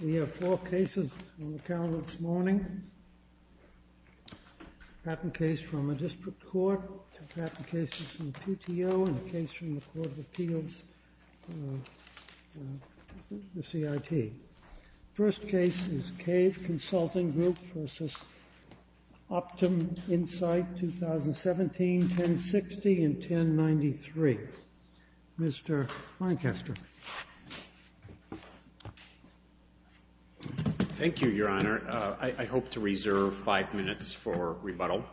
We have four cases on the calendar this morning, a patent case from a district court, two patent cases from the PTO, and a case from the Court of Appeals, the CIT. The first case is CAVE Consulting Group v. OptumInsight, 2017, 1060 and 1093. Mr. Lancaster. Thank you, Your Honor. I hope to reserve five minutes for rebuttal.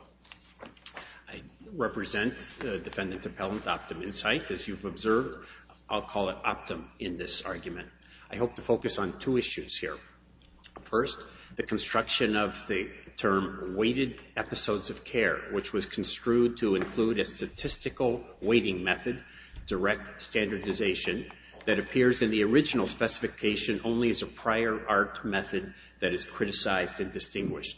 I represent Defendant Appellant OptumInsight, as you've observed. I'll call it Optum in this argument. I hope to focus on two issues here. First, the construction of the term weighted episodes of care, which was construed to include a statistical weighting method, direct standardization, that appears in the original specification only as a prior art method that is criticized and distinguished.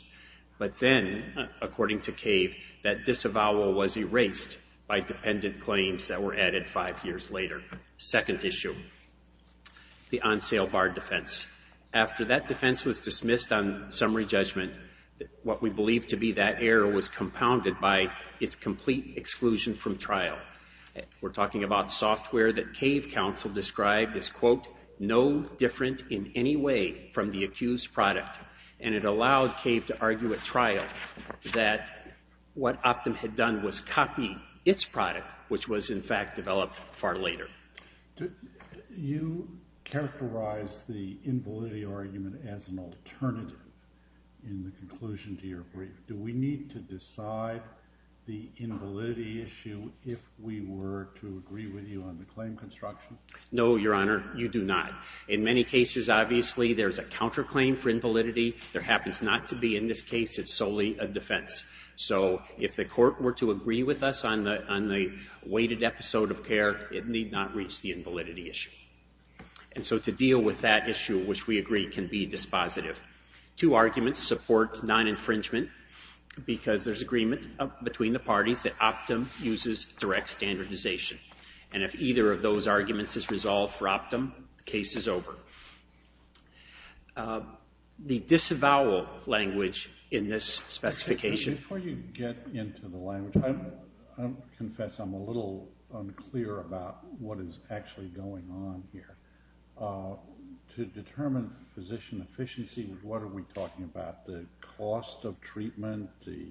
But then, according to CAVE, that disavowal was erased by dependent claims that were added five years later. Second issue, the on-sale bar defense. After that defense was dismissed on summary judgment, what we believe to be that error was compounded by its complete exclusion from trial. We're talking about software that CAVE counsel described as, quote, no different in any way from the accused product. And it allowed CAVE to argue at trial that what Optum had done was copy its product, which was, in fact, developed far later. You characterize the invalidity argument as an alternative in the conclusion to your brief. Do we need to decide the invalidity issue if we were to agree with you on the claim construction? No, Your Honor. You do not. In many cases, obviously, there's a counterclaim for invalidity. There happens not to be in this case. It's solely a defense. So if the court were to agree with us on the weighted episode of care, it need not reach the invalidity issue. And so to deal with that issue, which we agree can be dispositive. Two arguments support non-infringement because there's agreement between the parties that Optum uses direct standardization. And if either of those arguments is resolved for Optum, the case is over. The disavowal language in this specification... Before you get into the language, I confess I'm a little unclear about what is actually going on here. To determine physician efficiency, what are we talking about? The cost of treatment, the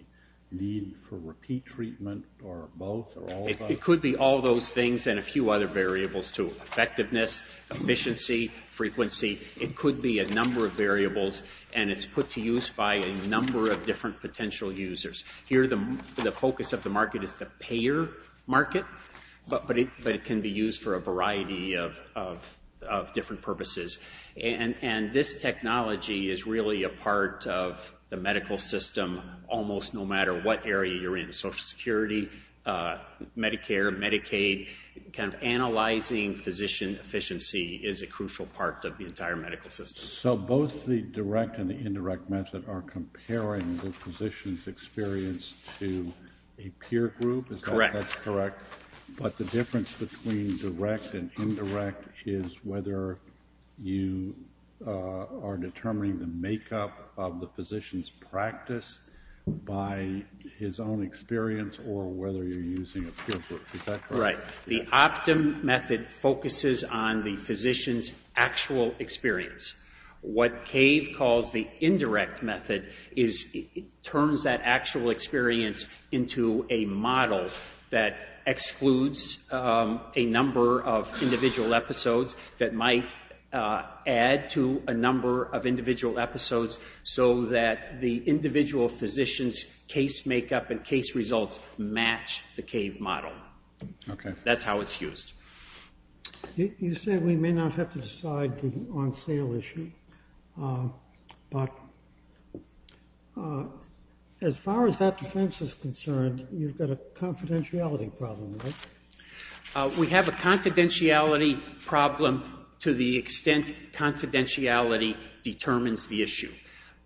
need for repeat treatment, or both, or all of those? It could be all those things and a few other variables, too. It could be a number of variables, and it's put to use by a number of different potential users. Here, the focus of the market is the payer market, but it can be used for a variety of different purposes. And this technology is really a part of the medical system almost no matter what area you're in. Social Security, Medicare, Medicaid, kind of analyzing physician efficiency is a crucial part of the entire medical system. So both the direct and the indirect method are comparing the physician's experience to a peer group? Correct. That's correct. But the difference between direct and indirect is whether you are determining the makeup of the physician's practice by his own experience or whether you're using a peer group. Is that correct? Right. So the Optum method focuses on the physician's actual experience. What CAVE calls the indirect method is it turns that actual experience into a model that excludes a number of individual episodes that might add to a number of individual episodes so that the individual physician's case makeup and case results match the CAVE model. Okay. That's how it's used. You said we may not have to decide the on sale issue, but as far as that defense is concerned, you've got a confidentiality problem, right? We have a confidentiality problem to the extent confidentiality determines the issue.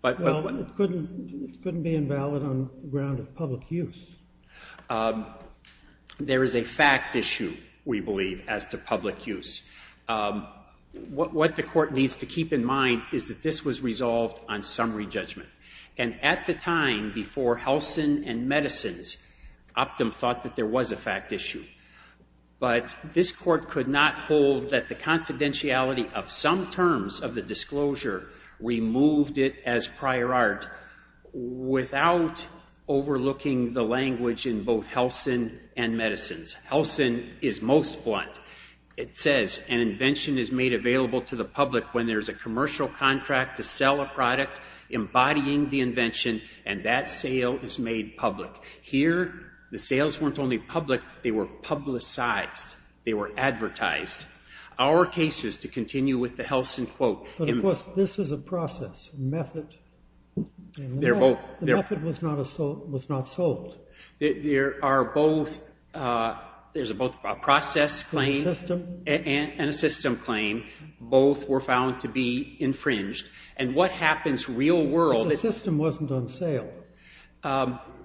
Well, it couldn't be invalid on the ground of public use. There is a fact issue, we believe, as to public use. What the Court needs to keep in mind is that this was resolved on summary judgment. And at the time before Helsin and Medicins, Optum thought that there was a fact issue. But this Court could not hold that the confidentiality of some terms of the disclosure removed it as prior art without overlooking the language in both Helsin and Medicins. Helsin is most blunt. It says an invention is made available to the public when there's a commercial contract to sell a product embodying the invention and that sale is made public. Here, the sales weren't only public, they were publicized. They were advertised. Our cases, to continue with the Helsin quote... But of course, this is a process, a method. They're both... The method was not sold. There are both... There's both a process claim... And a system. And a system claim. Both were found to be infringed. And what happens real world... But the system wasn't on sale.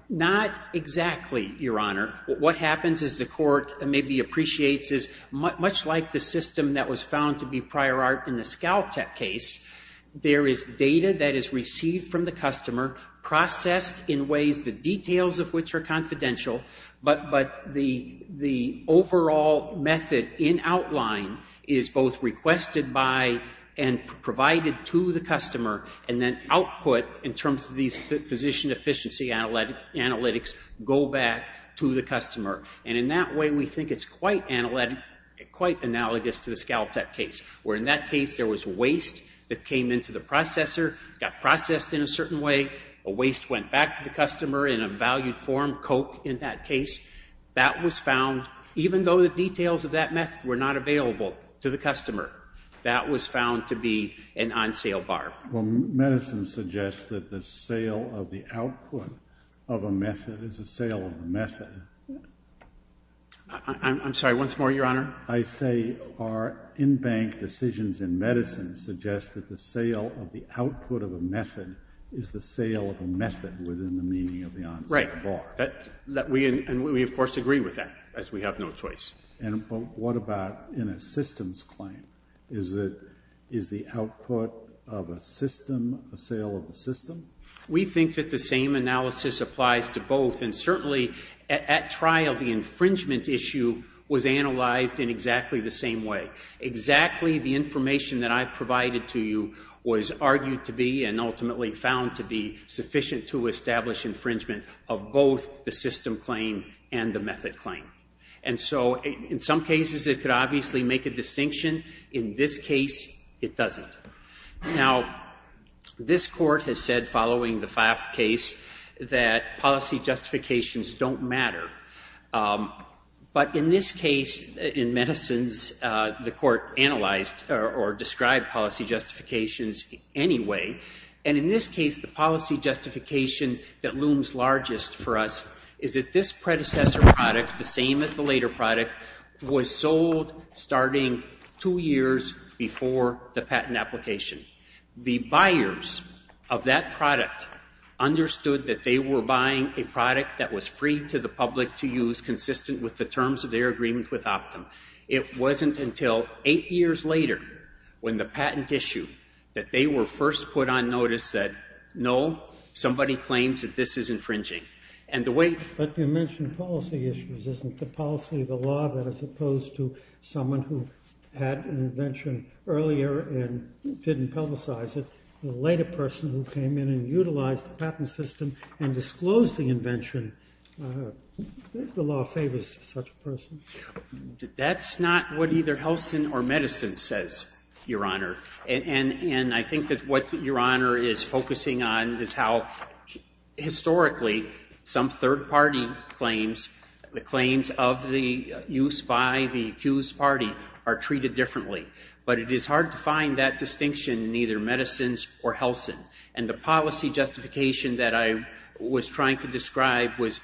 Not exactly, Your Honor. What happens, as the Court maybe appreciates, is much like the system that was found to be prior art in the ScalTech case, there is data that is received from the customer, processed in ways the details of which are confidential, but the overall method in outline is both requested by and provided to the customer, and then output in terms of these physician efficiency analytics go back to the customer. And in that way, we think it's quite analytic, quite analogous to the ScalTech case. Where in that case, there was waste that came into the processor, got processed in a certain way, the waste went back to the customer in a valued form, Coke in that case. That was found, even though the details of that method were not available to the customer, that was found to be an on-sale bar. Well, medicine suggests that the sale of the output of a method is a sale of a method. I'm sorry, once more, Your Honor? I say our in-bank decisions in medicine suggest that the sale of the output of a method is the sale of a method within the meaning of the on-sale bar. And we, of course, agree with that, as we have no choice. But what about in a systems claim? Is the output of a system a sale of a system? We think that the same analysis applies to both, and certainly at trial, the infringement issue was analyzed in exactly the same way. Exactly the information that I provided to you was argued to be and ultimately found to be both the system claim and the method claim. And so, in some cases, it could obviously make a distinction. In this case, it doesn't. Now, this court has said, following the Pfaff case, that policy justifications don't matter. But in this case, in medicines, the court analyzed or described policy justifications anyway. And in this case, the policy justification that looms largest for us is that this predecessor product, the same as the later product, was sold starting two years before the patent application. The buyers of that product understood that they were buying a product that was free to the public to use, consistent with the terms of their agreement with Optum. It wasn't until eight years later, when the patent issue, that they were first put on notice that, no, somebody claims that this is infringing. But you mentioned policy issues. Isn't the policy of the law that is opposed to someone who had an invention earlier and didn't publicize it? The later person who came in and utilized the patent system and disclosed the invention, the law favors such a person? That's not what either Helsin or medicines says, Your Honor. And I think that what Your Honor is focusing on is how, historically, some third-party claims, the claims of the use by the accused party, are treated differently. But it is hard to find that distinction in either medicines or Helsin. And the policy justification that I was trying to describe was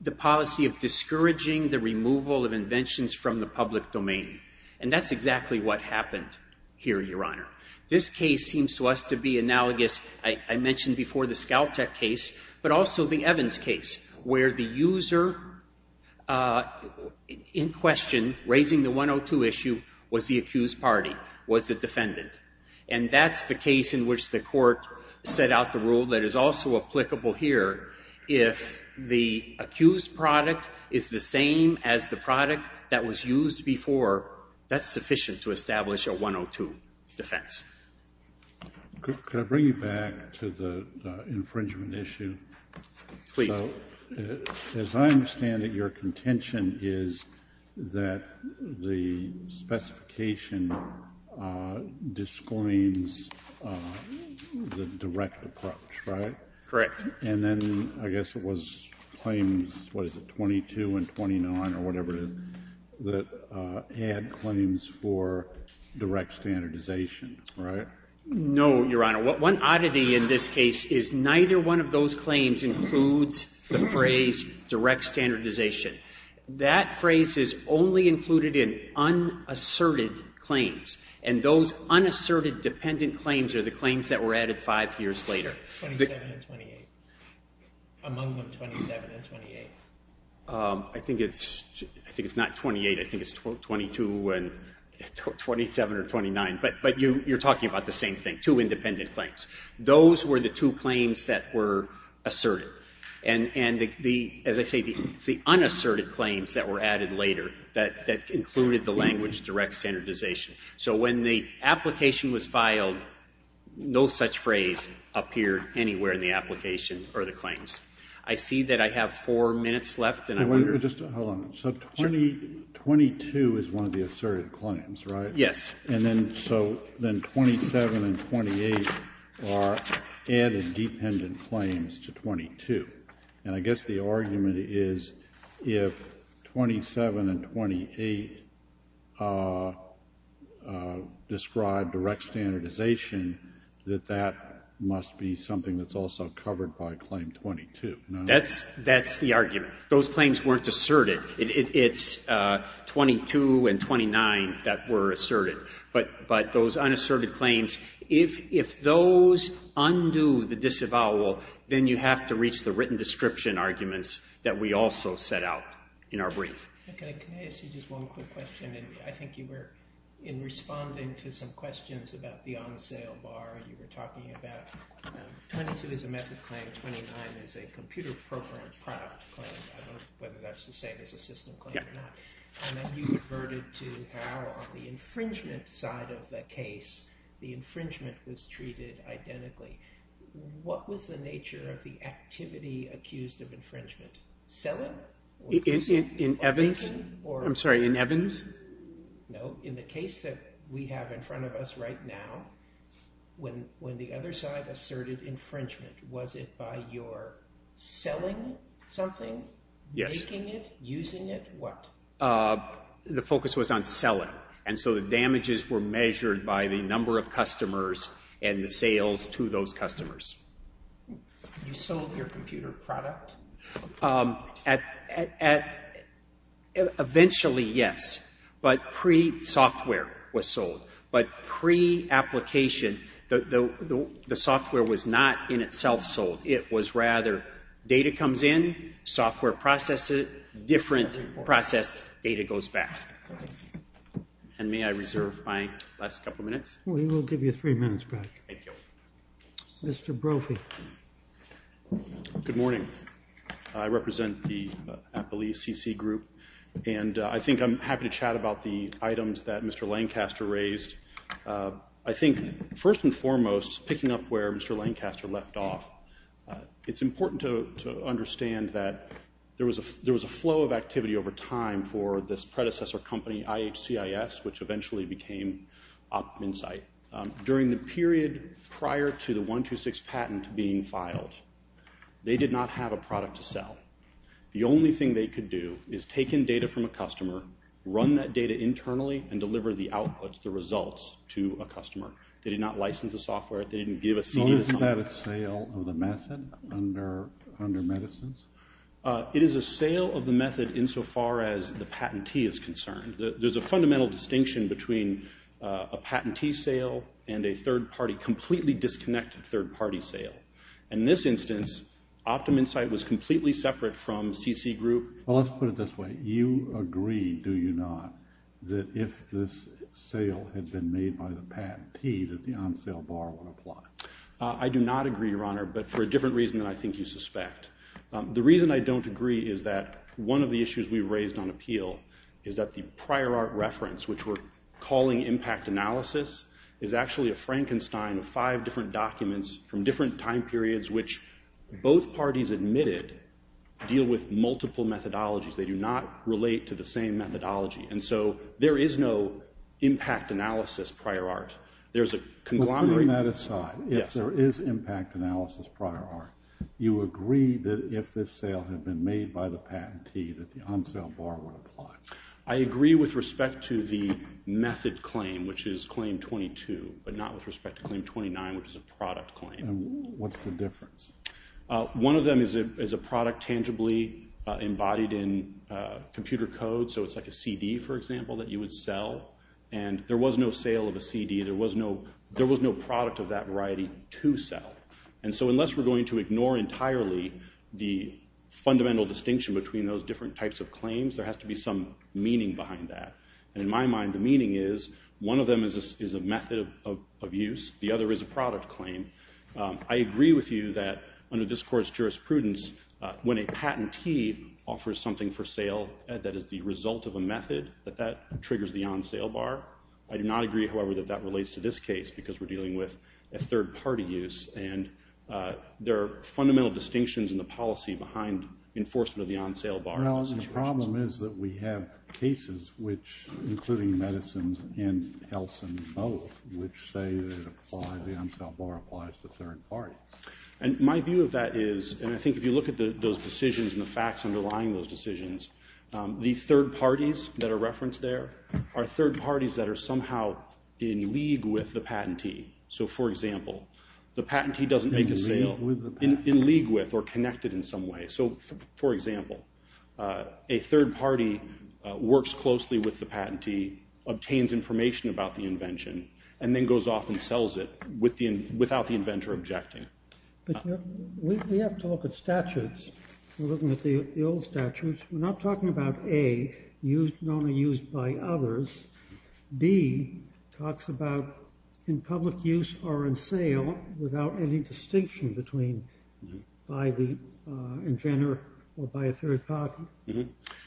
the policy of discouraging the removal of inventions from the public domain. And that's exactly what happened here, Your Honor. This case seems to us to be analogous, I mentioned before, the Skaltech case, but also the Evans case, where the user in question, raising the 102 issue, was the accused party, was the defendant. And that's the case in which the court set out the rule that is also applicable here if the accused product is the same as the product that was used before, that's sufficient to establish a 102 defense. Could I bring you back to the infringement issue? Please. As I understand it, your contention is that the specification discoins the direct approach, right? Correct. And then I guess it was claims, what is it, 22 and 29 or whatever it is, that had claims for direct standardization, right? No, Your Honor. One oddity in this case is neither one of those claims includes the phrase direct standardization. That phrase is only included in unasserted claims. And those unasserted dependent claims are the claims that were added 5 years later. 27 and 28. Among them, 27 and 28. I think it's not 28. I think it's 22 and 27 or 29. But you're talking about the same thing, two independent claims. Those were the two claims that were asserted. And, as I say, it's the unasserted claims that were added later that included the language direct standardization. So when the application was filed, no such phrase appeared anywhere in the application or the claims. I see that I have four minutes left and I wonder. Hold on. So 22 is one of the asserted claims, right? Yes. And then so then 27 and 28 are added dependent claims to 22. And I guess the argument is if 27 and 28 describe direct standardization, that that must be something that's also covered by claim 22. That's the argument. Those claims weren't asserted. It's 22 and 29 that were asserted. But those unasserted claims, if those undo the disavowal, then you have to reach the written description arguments that we also set out in our brief. Okay. Can I ask you just one quick question? And I think you were, in responding to some questions about the on-sale bar, you were talking about 22 is a method claim, 29 is a computer-appropriate product claim. I don't know whether that's the same as a system claim or not. And then you reverted to how on the infringement side of the case, the infringement was treated identically. What was the nature of the activity accused of infringement? Selling? In Evans? I'm sorry, in Evans? No, in the case that we have in front of us right now, when the other side asserted infringement, was it by your selling something? Yes. Making it? Using it? What? The focus was on selling. And so the damages were measured by the number of customers and the sales to those customers. You sold your computer product? Eventually, yes. But pre-software was sold. But pre-application, the software was not in itself sold. It was rather data comes in, software processes it, different process, data goes back. And may I reserve my last couple minutes? We will give you three minutes, Brad. Thank you. Mr. Brophy. Good morning. I represent the Appalachia CC group, and I think I'm happy to chat about the items that Mr. Lancaster raised. I think first and foremost, picking up where Mr. Lancaster left off, it's important to understand that there was a flow of activity over time for this predecessor company, IHCIS, which eventually became OpMinsight. During the period prior to the 126 patent being filed, they did not have a product to sell. The only thing they could do is take in data from a customer, run that data internally, and deliver the output, the results, to a customer. They did not license the software. They didn't give a CD to someone. Is that a sale of the method under medicines? It is a sale of the method insofar as the patentee is concerned. There's a fundamental distinction between a patentee sale and a third-party, completely disconnected third-party sale. In this instance, OpMinsight was completely separate from CC group. Well, let's put it this way. You agree, do you not, that if this sale had been made by the patentee, that the on-sale bar would apply? I do not agree, Your Honor, but for a different reason than I think you suspect. The reason I don't agree is that one of the issues we raised on appeal is that the prior art reference, which we're calling impact analysis, is actually a Frankenstein of five different documents from different time periods which both parties admitted deal with multiple methodologies. They do not relate to the same methodology. And so there is no impact analysis prior art. There's a conglomerate. Putting that aside, if there is impact analysis prior art, you agree that if this sale had been made by the patentee, that the on-sale bar would apply? I agree with respect to the method claim, which is claim 22, but not with respect to claim 29, which is a product claim. What's the difference? One of them is a product tangibly embodied in computer code, so it's like a CD, for example, that you would sell. And there was no sale of a CD. There was no product of that variety to sell. And so unless we're going to ignore entirely the fundamental distinction between those different types of claims, there has to be some meaning behind that. And in my mind, the meaning is one of them is a method of use. The other is a product claim. I agree with you that under this Court's jurisprudence, when a patentee offers something for sale that is the result of a method, that that triggers the on-sale bar. I do not agree, however, that that relates to this case because we're dealing with a third-party use. And there are fundamental distinctions in the policy behind enforcement of the on-sale bar in this situation. Well, the problem is that we have cases, including medicines and health and both, which say that the on-sale bar applies to third parties. And my view of that is, and I think if you look at those decisions and the facts underlying those decisions, the third parties that are referenced there are third parties that are somehow in league with the patentee. So, for example, the patentee doesn't make a sale. In league with or connected in some way. So, for example, a third party works closely with the patentee, obtains information about the invention, and then goes off and sells it without the inventor objecting. But we have to look at statutes. We're looking at the old statutes. We're not talking about A, known and used by others. B talks about in public use or in sale without any distinction between by the inventor or by a third party.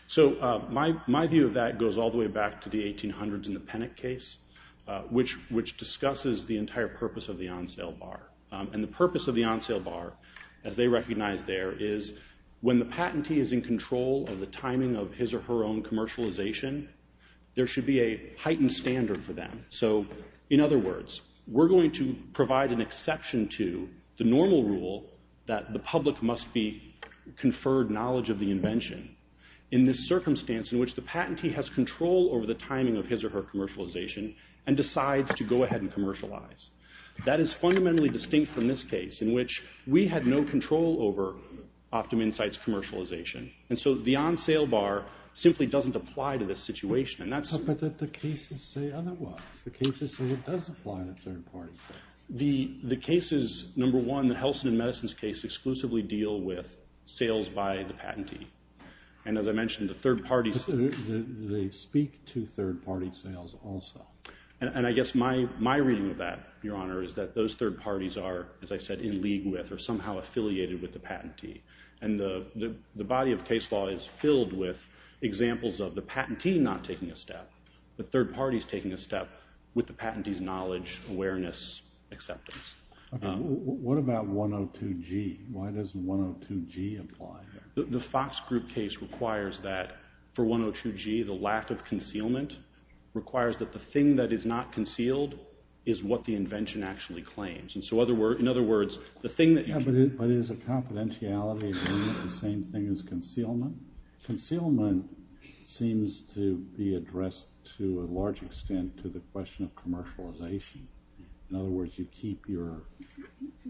So, my view of that goes all the way back to the 1800s in the Pennock case, which discusses the entire purpose of the on-sale bar. And the purpose of the on-sale bar, as they recognize there, is when the patentee is in control of the timing of his or her own commercialization, there should be a heightened standard for them. So, in other words, we're going to provide an exception to the normal rule that the public must be conferred knowledge of the invention in this circumstance in which the patentee has control over the timing of his or her commercialization and decides to go ahead and commercialize. That is fundamentally distinct from this case in which we had no control over OptumInsight's commercialization. And so the on-sale bar simply doesn't apply to this situation. But the cases say otherwise. The cases say it does apply to third-party sales. The cases, number one, the Helsin and Medicines case, exclusively deal with sales by the patentee. And as I mentioned, the third parties... They speak to third-party sales also. And I guess my reading of that, Your Honor, is that those third parties are, as I said, in league with or somehow affiliated with the patentee. And the body of case law is filled with examples of the patentee not taking a step, the third parties taking a step with the patentee's knowledge, awareness, acceptance. What about 102G? Why does 102G apply? The Fox Group case requires that for 102G, the lack of concealment requires that the thing that is not concealed is what the invention actually claims. In other words, the thing that... But is a confidentiality agreement the same thing as concealment? Concealment seems to be addressed to a large extent to the question of commercialization. In other words, you keep your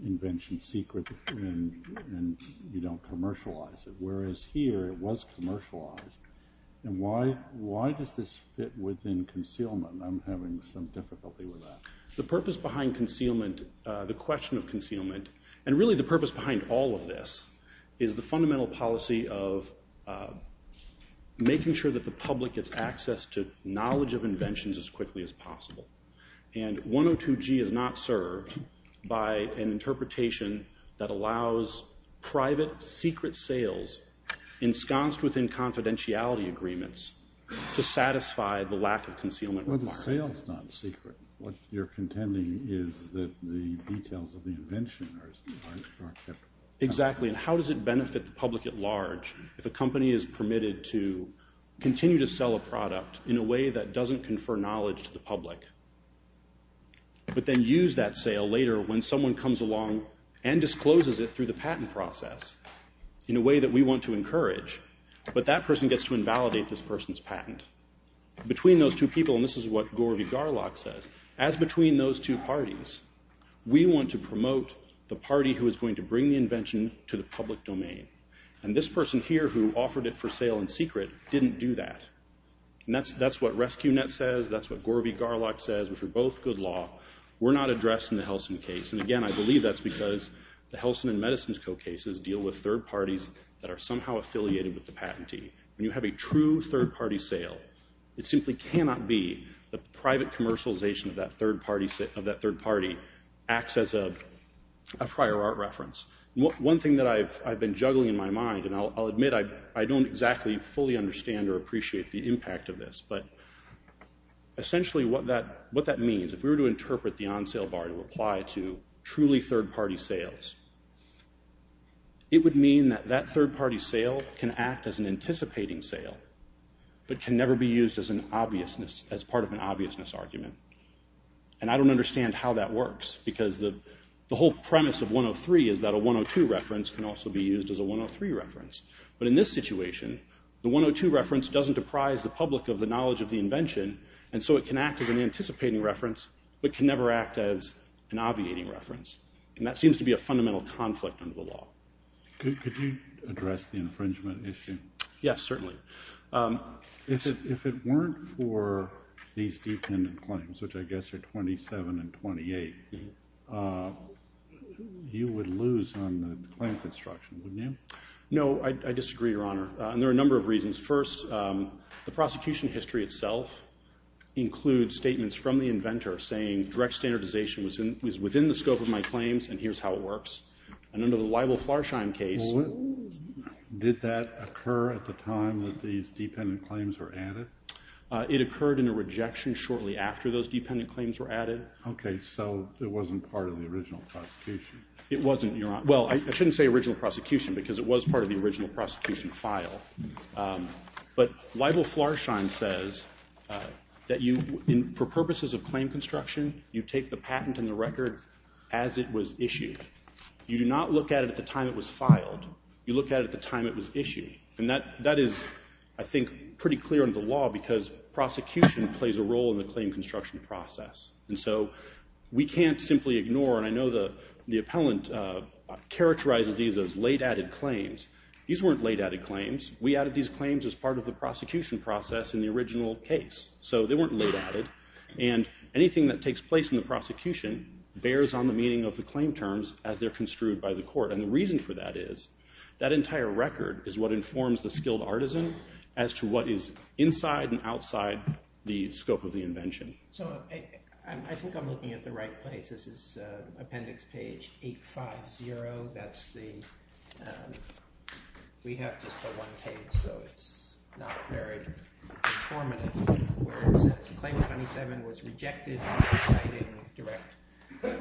invention secret and you don't commercialize it. Whereas here, it was commercialized. And why does this fit within concealment? I'm having some difficulty with that. The purpose behind concealment, the question of concealment, and really the purpose behind all of this, is the fundamental policy of making sure that the public gets access to knowledge of inventions as quickly as possible. And 102G is not served by an interpretation that allows private secret sales ensconced within confidentiality agreements to satisfy the lack of concealment requirement. Well, the sale's not secret. What you're contending is that the details of the invention are kept... Exactly. And how does it benefit the public at large if a company is permitted to continue to sell a product in a way that doesn't confer knowledge to the public, but then use that sale later when someone comes along and discloses it through the patent process in a way that we want to encourage, but that person gets to invalidate this person's patent. Between those two people, and this is what Gore V. Garlock says, as between those two parties, we want to promote the party who is going to bring the invention to the public domain. And this person here, who offered it for sale in secret, didn't do that. And that's what Rescue Net says, that's what Gore V. Garlock says, which are both good law. We're not addressing the Helsin case. And again, I believe that's because the Helsin and Medicins Co. cases deal with third parties that are somehow affiliated with the patentee. When you have a true third-party sale, it simply cannot be that the private commercialization of that third party acts as a prior art reference. One thing that I've been juggling in my mind, and I'll admit I don't exactly fully understand or appreciate the impact of this, but essentially what that means, if we were to interpret the on-sale bar in a reply to truly third-party sales, it would mean that that third-party sale can act as an anticipating sale, but can never be used as part of an obviousness argument. And I don't understand how that works, because the whole premise of 103 is that a 102 reference can also be used as a 103 reference. But in this situation, the 102 reference doesn't apprise the public of the knowledge of the invention, and so it can act as an anticipating reference, but can never act as an obviating reference. And that seems to be a fundamental conflict under the law. Could you address the infringement issue? Yes, certainly. If it weren't for these dependent claims, which I guess are 27 and 28, you would lose on the claim construction, wouldn't you? No, I disagree, Your Honor, and there are a number of reasons. First, the prosecution history itself includes statements from the inventor saying direct standardization was within the scope of my claims, and here's how it works. And under the Libel-Flarsheim case... Did that occur at the time that these dependent claims were added? It occurred in a rejection shortly after those dependent claims were added. Okay, so it wasn't part of the original prosecution. It wasn't, Your Honor. Well, I shouldn't say original prosecution, because it was part of the original prosecution file. But Libel-Flarsheim says that for purposes of claim construction, you take the patent and the record as it was issued. You do not look at it at the time it was filed. You look at it at the time it was issued. And that is, I think, pretty clear under the law, because prosecution plays a role in the claim construction process. And so we can't simply ignore, and I know the appellant characterizes these as late-added claims. These weren't late-added claims. We added these claims as part of the prosecution process in the original case. So they weren't late-added. And anything that takes place in the prosecution bears on the meaning of the claim terms as they're construed by the court. And the reason for that is, that entire record is what informs the skilled artisan as to what is inside and outside the scope of the invention. So I think I'm looking at the right place. This is Appendix Page 850. That's the... We have just the one page, so it's not very informative. Where it says, Claim 27 was rejected for citing direct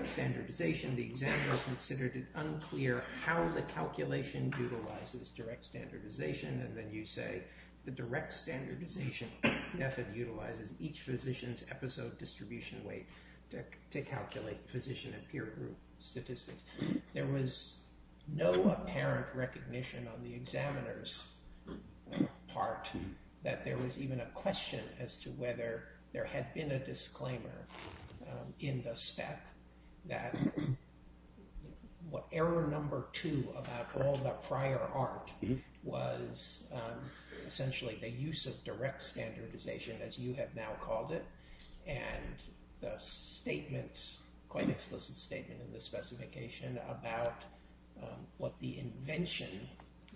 standardization. The examiner considered it unclear how the calculation utilizes direct standardization. And then you say, the direct standardization method utilizes each physician's episode distribution weight to calculate physician and peer group statistics. There was no apparent recognition on the examiner's part that there was even a question as to whether there had been a disclaimer in the spec that error number two about all the prior art was essentially the use of direct standardization, as you have now called it. And the statement, quite an explicit statement in the specification about what the invention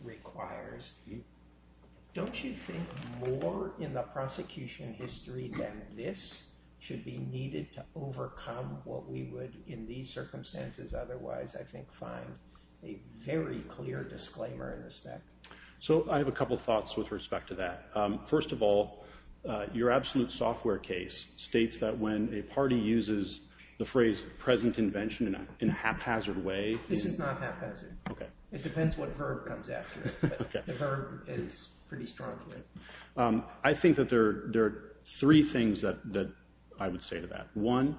requires. Don't you think more in the prosecution history than this should be needed to overcome what we would in these circumstances otherwise, I think, find a very clear disclaimer in the spec? So I have a couple thoughts with respect to that. First of all, your absolute software case states that when a party uses the phrase present invention in a haphazard way... This is not haphazard. It depends what verb comes after it, but the verb is pretty strong here. I think that there are three things that I would say to that. One,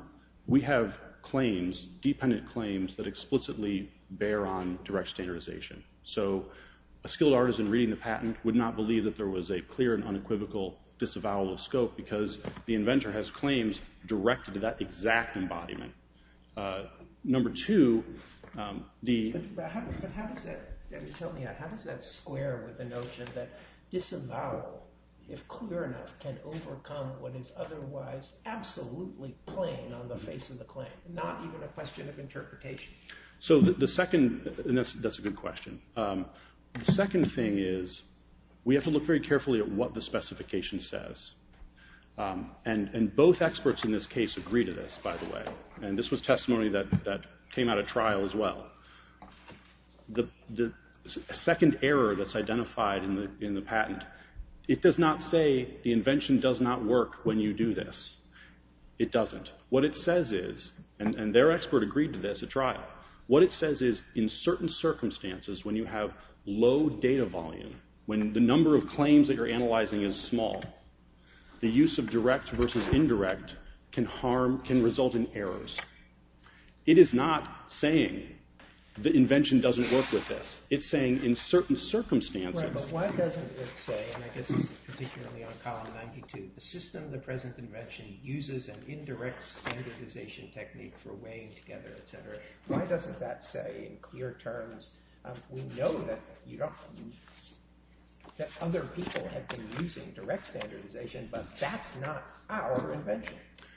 we have claims, dependent claims, that explicitly bear on direct standardization. So a skilled artisan reading the patent would not believe that there was a clear and unequivocal disavowal of scope because the inventor has claims directed to that exact embodiment. Number two, the... But how does that square with the notion that disavowal, if clear enough, can overcome what is otherwise absolutely plain on the face of the claim, not even a question of interpretation? So the second, and that's a good question. The second thing is we have to look very carefully at what the specification says. And both experts in this case agree to this, by the way. And this was testimony that came out at trial as well. The second error that's identified in the patent, it does not say the invention does not work when you do this. It doesn't. What it says is, and their expert agreed to this at trial, what it says is in certain circumstances when you have low data volume, when the number of claims that you're analyzing is small, the use of direct versus indirect can harm, can result in errors. It is not saying the invention doesn't work with this. It's saying in certain circumstances... Right, but why doesn't it say, and I guess this is particularly on column 92, the system of the present invention uses an indirect standardization technique for weighing together, et cetera. Why doesn't that say in clear terms, we know that other people have been using direct standardization, but that's not our invention,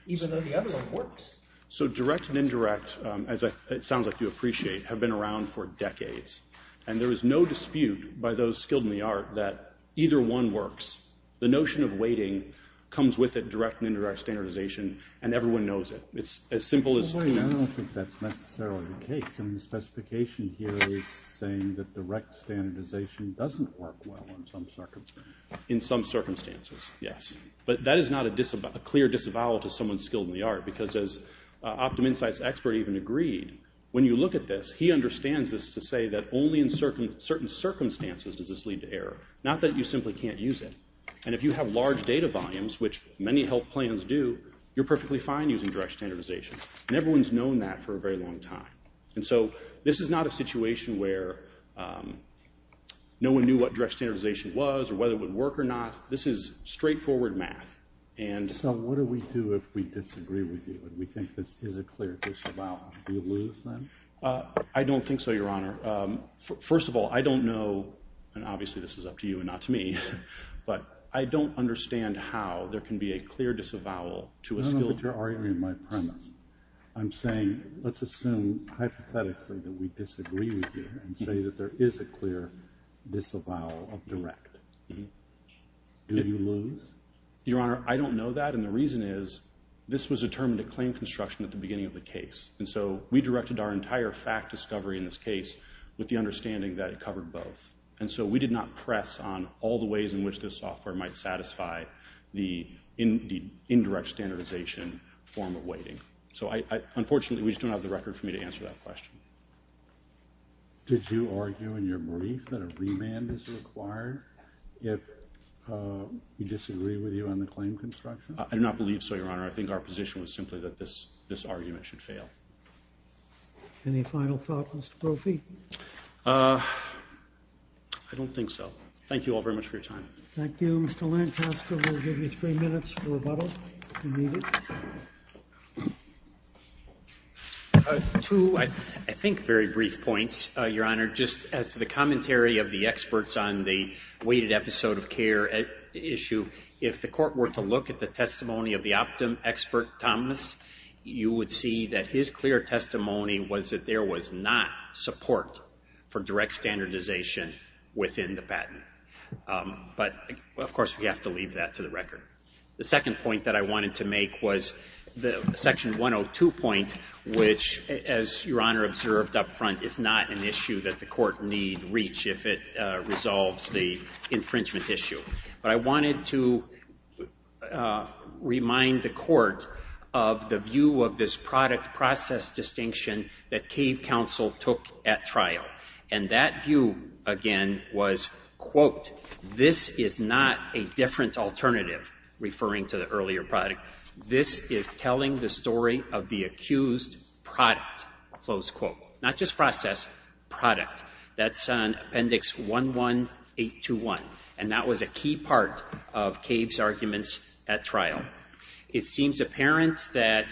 even though the other one works. So direct and indirect, as it sounds like you appreciate, have been around for decades. And there is no dispute by those skilled in the art that either one works. The notion of weighting comes with it, direct and indirect standardization, and everyone knows it. It's as simple as... I don't think that's necessarily the case. I mean, the specification here is saying that direct standardization doesn't work well in some circumstances. In some circumstances, yes. But that is not a clear disavowal to someone skilled in the art, because as OptumInsight's expert even agreed, when you look at this, he understands this to say that only in certain circumstances does this lead to error, not that you simply can't use it. And if you have large data volumes, which many health plans do, you're perfectly fine using direct standardization. And everyone's known that for a very long time. And so this is not a situation where no one knew what direct standardization was or whether it would work or not. This is straightforward math. So what do we do if we disagree with you? Do we think this is a clear disavowal? Do we lose then? I don't think so, Your Honor. First of all, I don't know, and obviously this is up to you and not to me, but I don't understand how there can be a clear disavowal to a skilled... You're arguing my premise. I'm saying let's assume hypothetically that we disagree with you and say that there is a clear disavowal of direct. Do you lose? Your Honor, I don't know that, and the reason is this was determined at claim construction at the beginning of the case. And so we directed our entire fact discovery in this case with the understanding that it covered both. And so we did not press on all the ways in which this software might satisfy the indirect standardization form of weighting. So unfortunately, we just don't have the record for me to answer that question. Did you argue in your brief that a remand is required if we disagree with you on the claim construction? I do not believe so, Your Honor. I think our position was simply that this argument should fail. Any final thoughts, Mr. Boffi? Uh, I don't think so. Thank you all very much for your time. Thank you. Mr. Lancaster will give you three minutes for rebuttal, if you need it. Two, I think, very brief points, Your Honor. Just as to the commentary of the experts on the weighted episode of care issue, if the court were to look at the testimony of the Optum expert, Thomas, you would see that his clear testimony was that there was not support for direct standardization within the patent. But, of course, we have to leave that to the record. The second point that I wanted to make was the Section 102 point, which, as Your Honor observed up front, is not an issue that the court need reach if it resolves the infringement issue. But I wanted to remind the court of the view of this product-process distinction that Cave Counsel took at trial. And that view, again, was, quote, this is not a different alternative, referring to the earlier product. This is telling the story of the accused product, close quote. Not just process, product. That's on Appendix 11821. And that was a key part of Cave's arguments at trial. It seems apparent that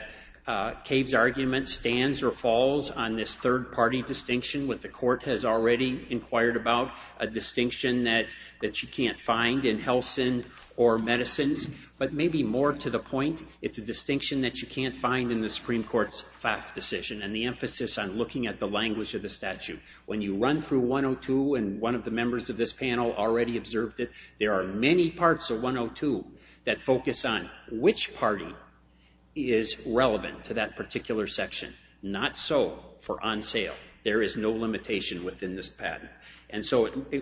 Cave's argument stands or falls on this third-party distinction with the court has already inquired about, a distinction that you can't find in Helsin or medicines. But maybe more to the point, it's a distinction that you can't find in the Supreme Court's FAF decision and the emphasis on looking at the language of the statute. When you run through 102, and one of the members of this panel already observed it, there are many parts of 102 that focus on which party is relevant to that particular section. Not so for on sale. There is no limitation within this patent,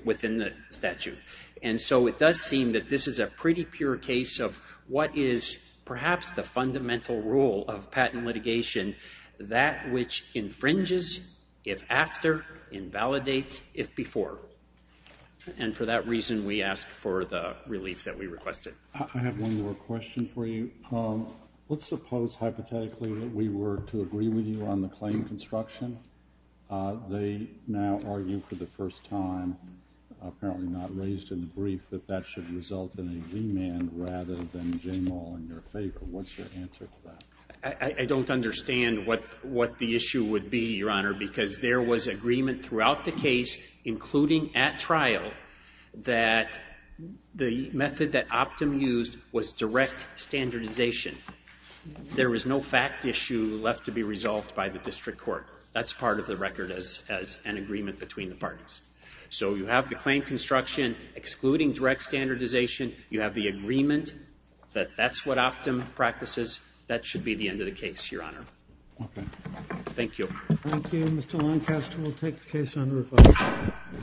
within the statute. And so it does seem that this is a pretty pure case of what is perhaps the fundamental rule of patent litigation, that which infringes if after, invalidates if before. And for that reason, we ask for the relief that we requested. I have one more question for you. Let's suppose hypothetically that we were to agree with you on the claim construction. They now argue for the first time, apparently not raised in the brief, that that should result in a remand rather than J-Mall in your favor. What's your answer to that? I don't understand what the issue would be, Your Honor, because there was agreement throughout the case, including at trial, that the method that Optum used was direct standardization. There was no fact issue left to be resolved by the district court. That's part of the record as an agreement between the parties. So you have the claim construction excluding direct standardization. You have the agreement that that's what Optum practices. That should be the end of the case, Your Honor. Okay. Thank you. Thank you. Mr. Lancaster will take the case under review.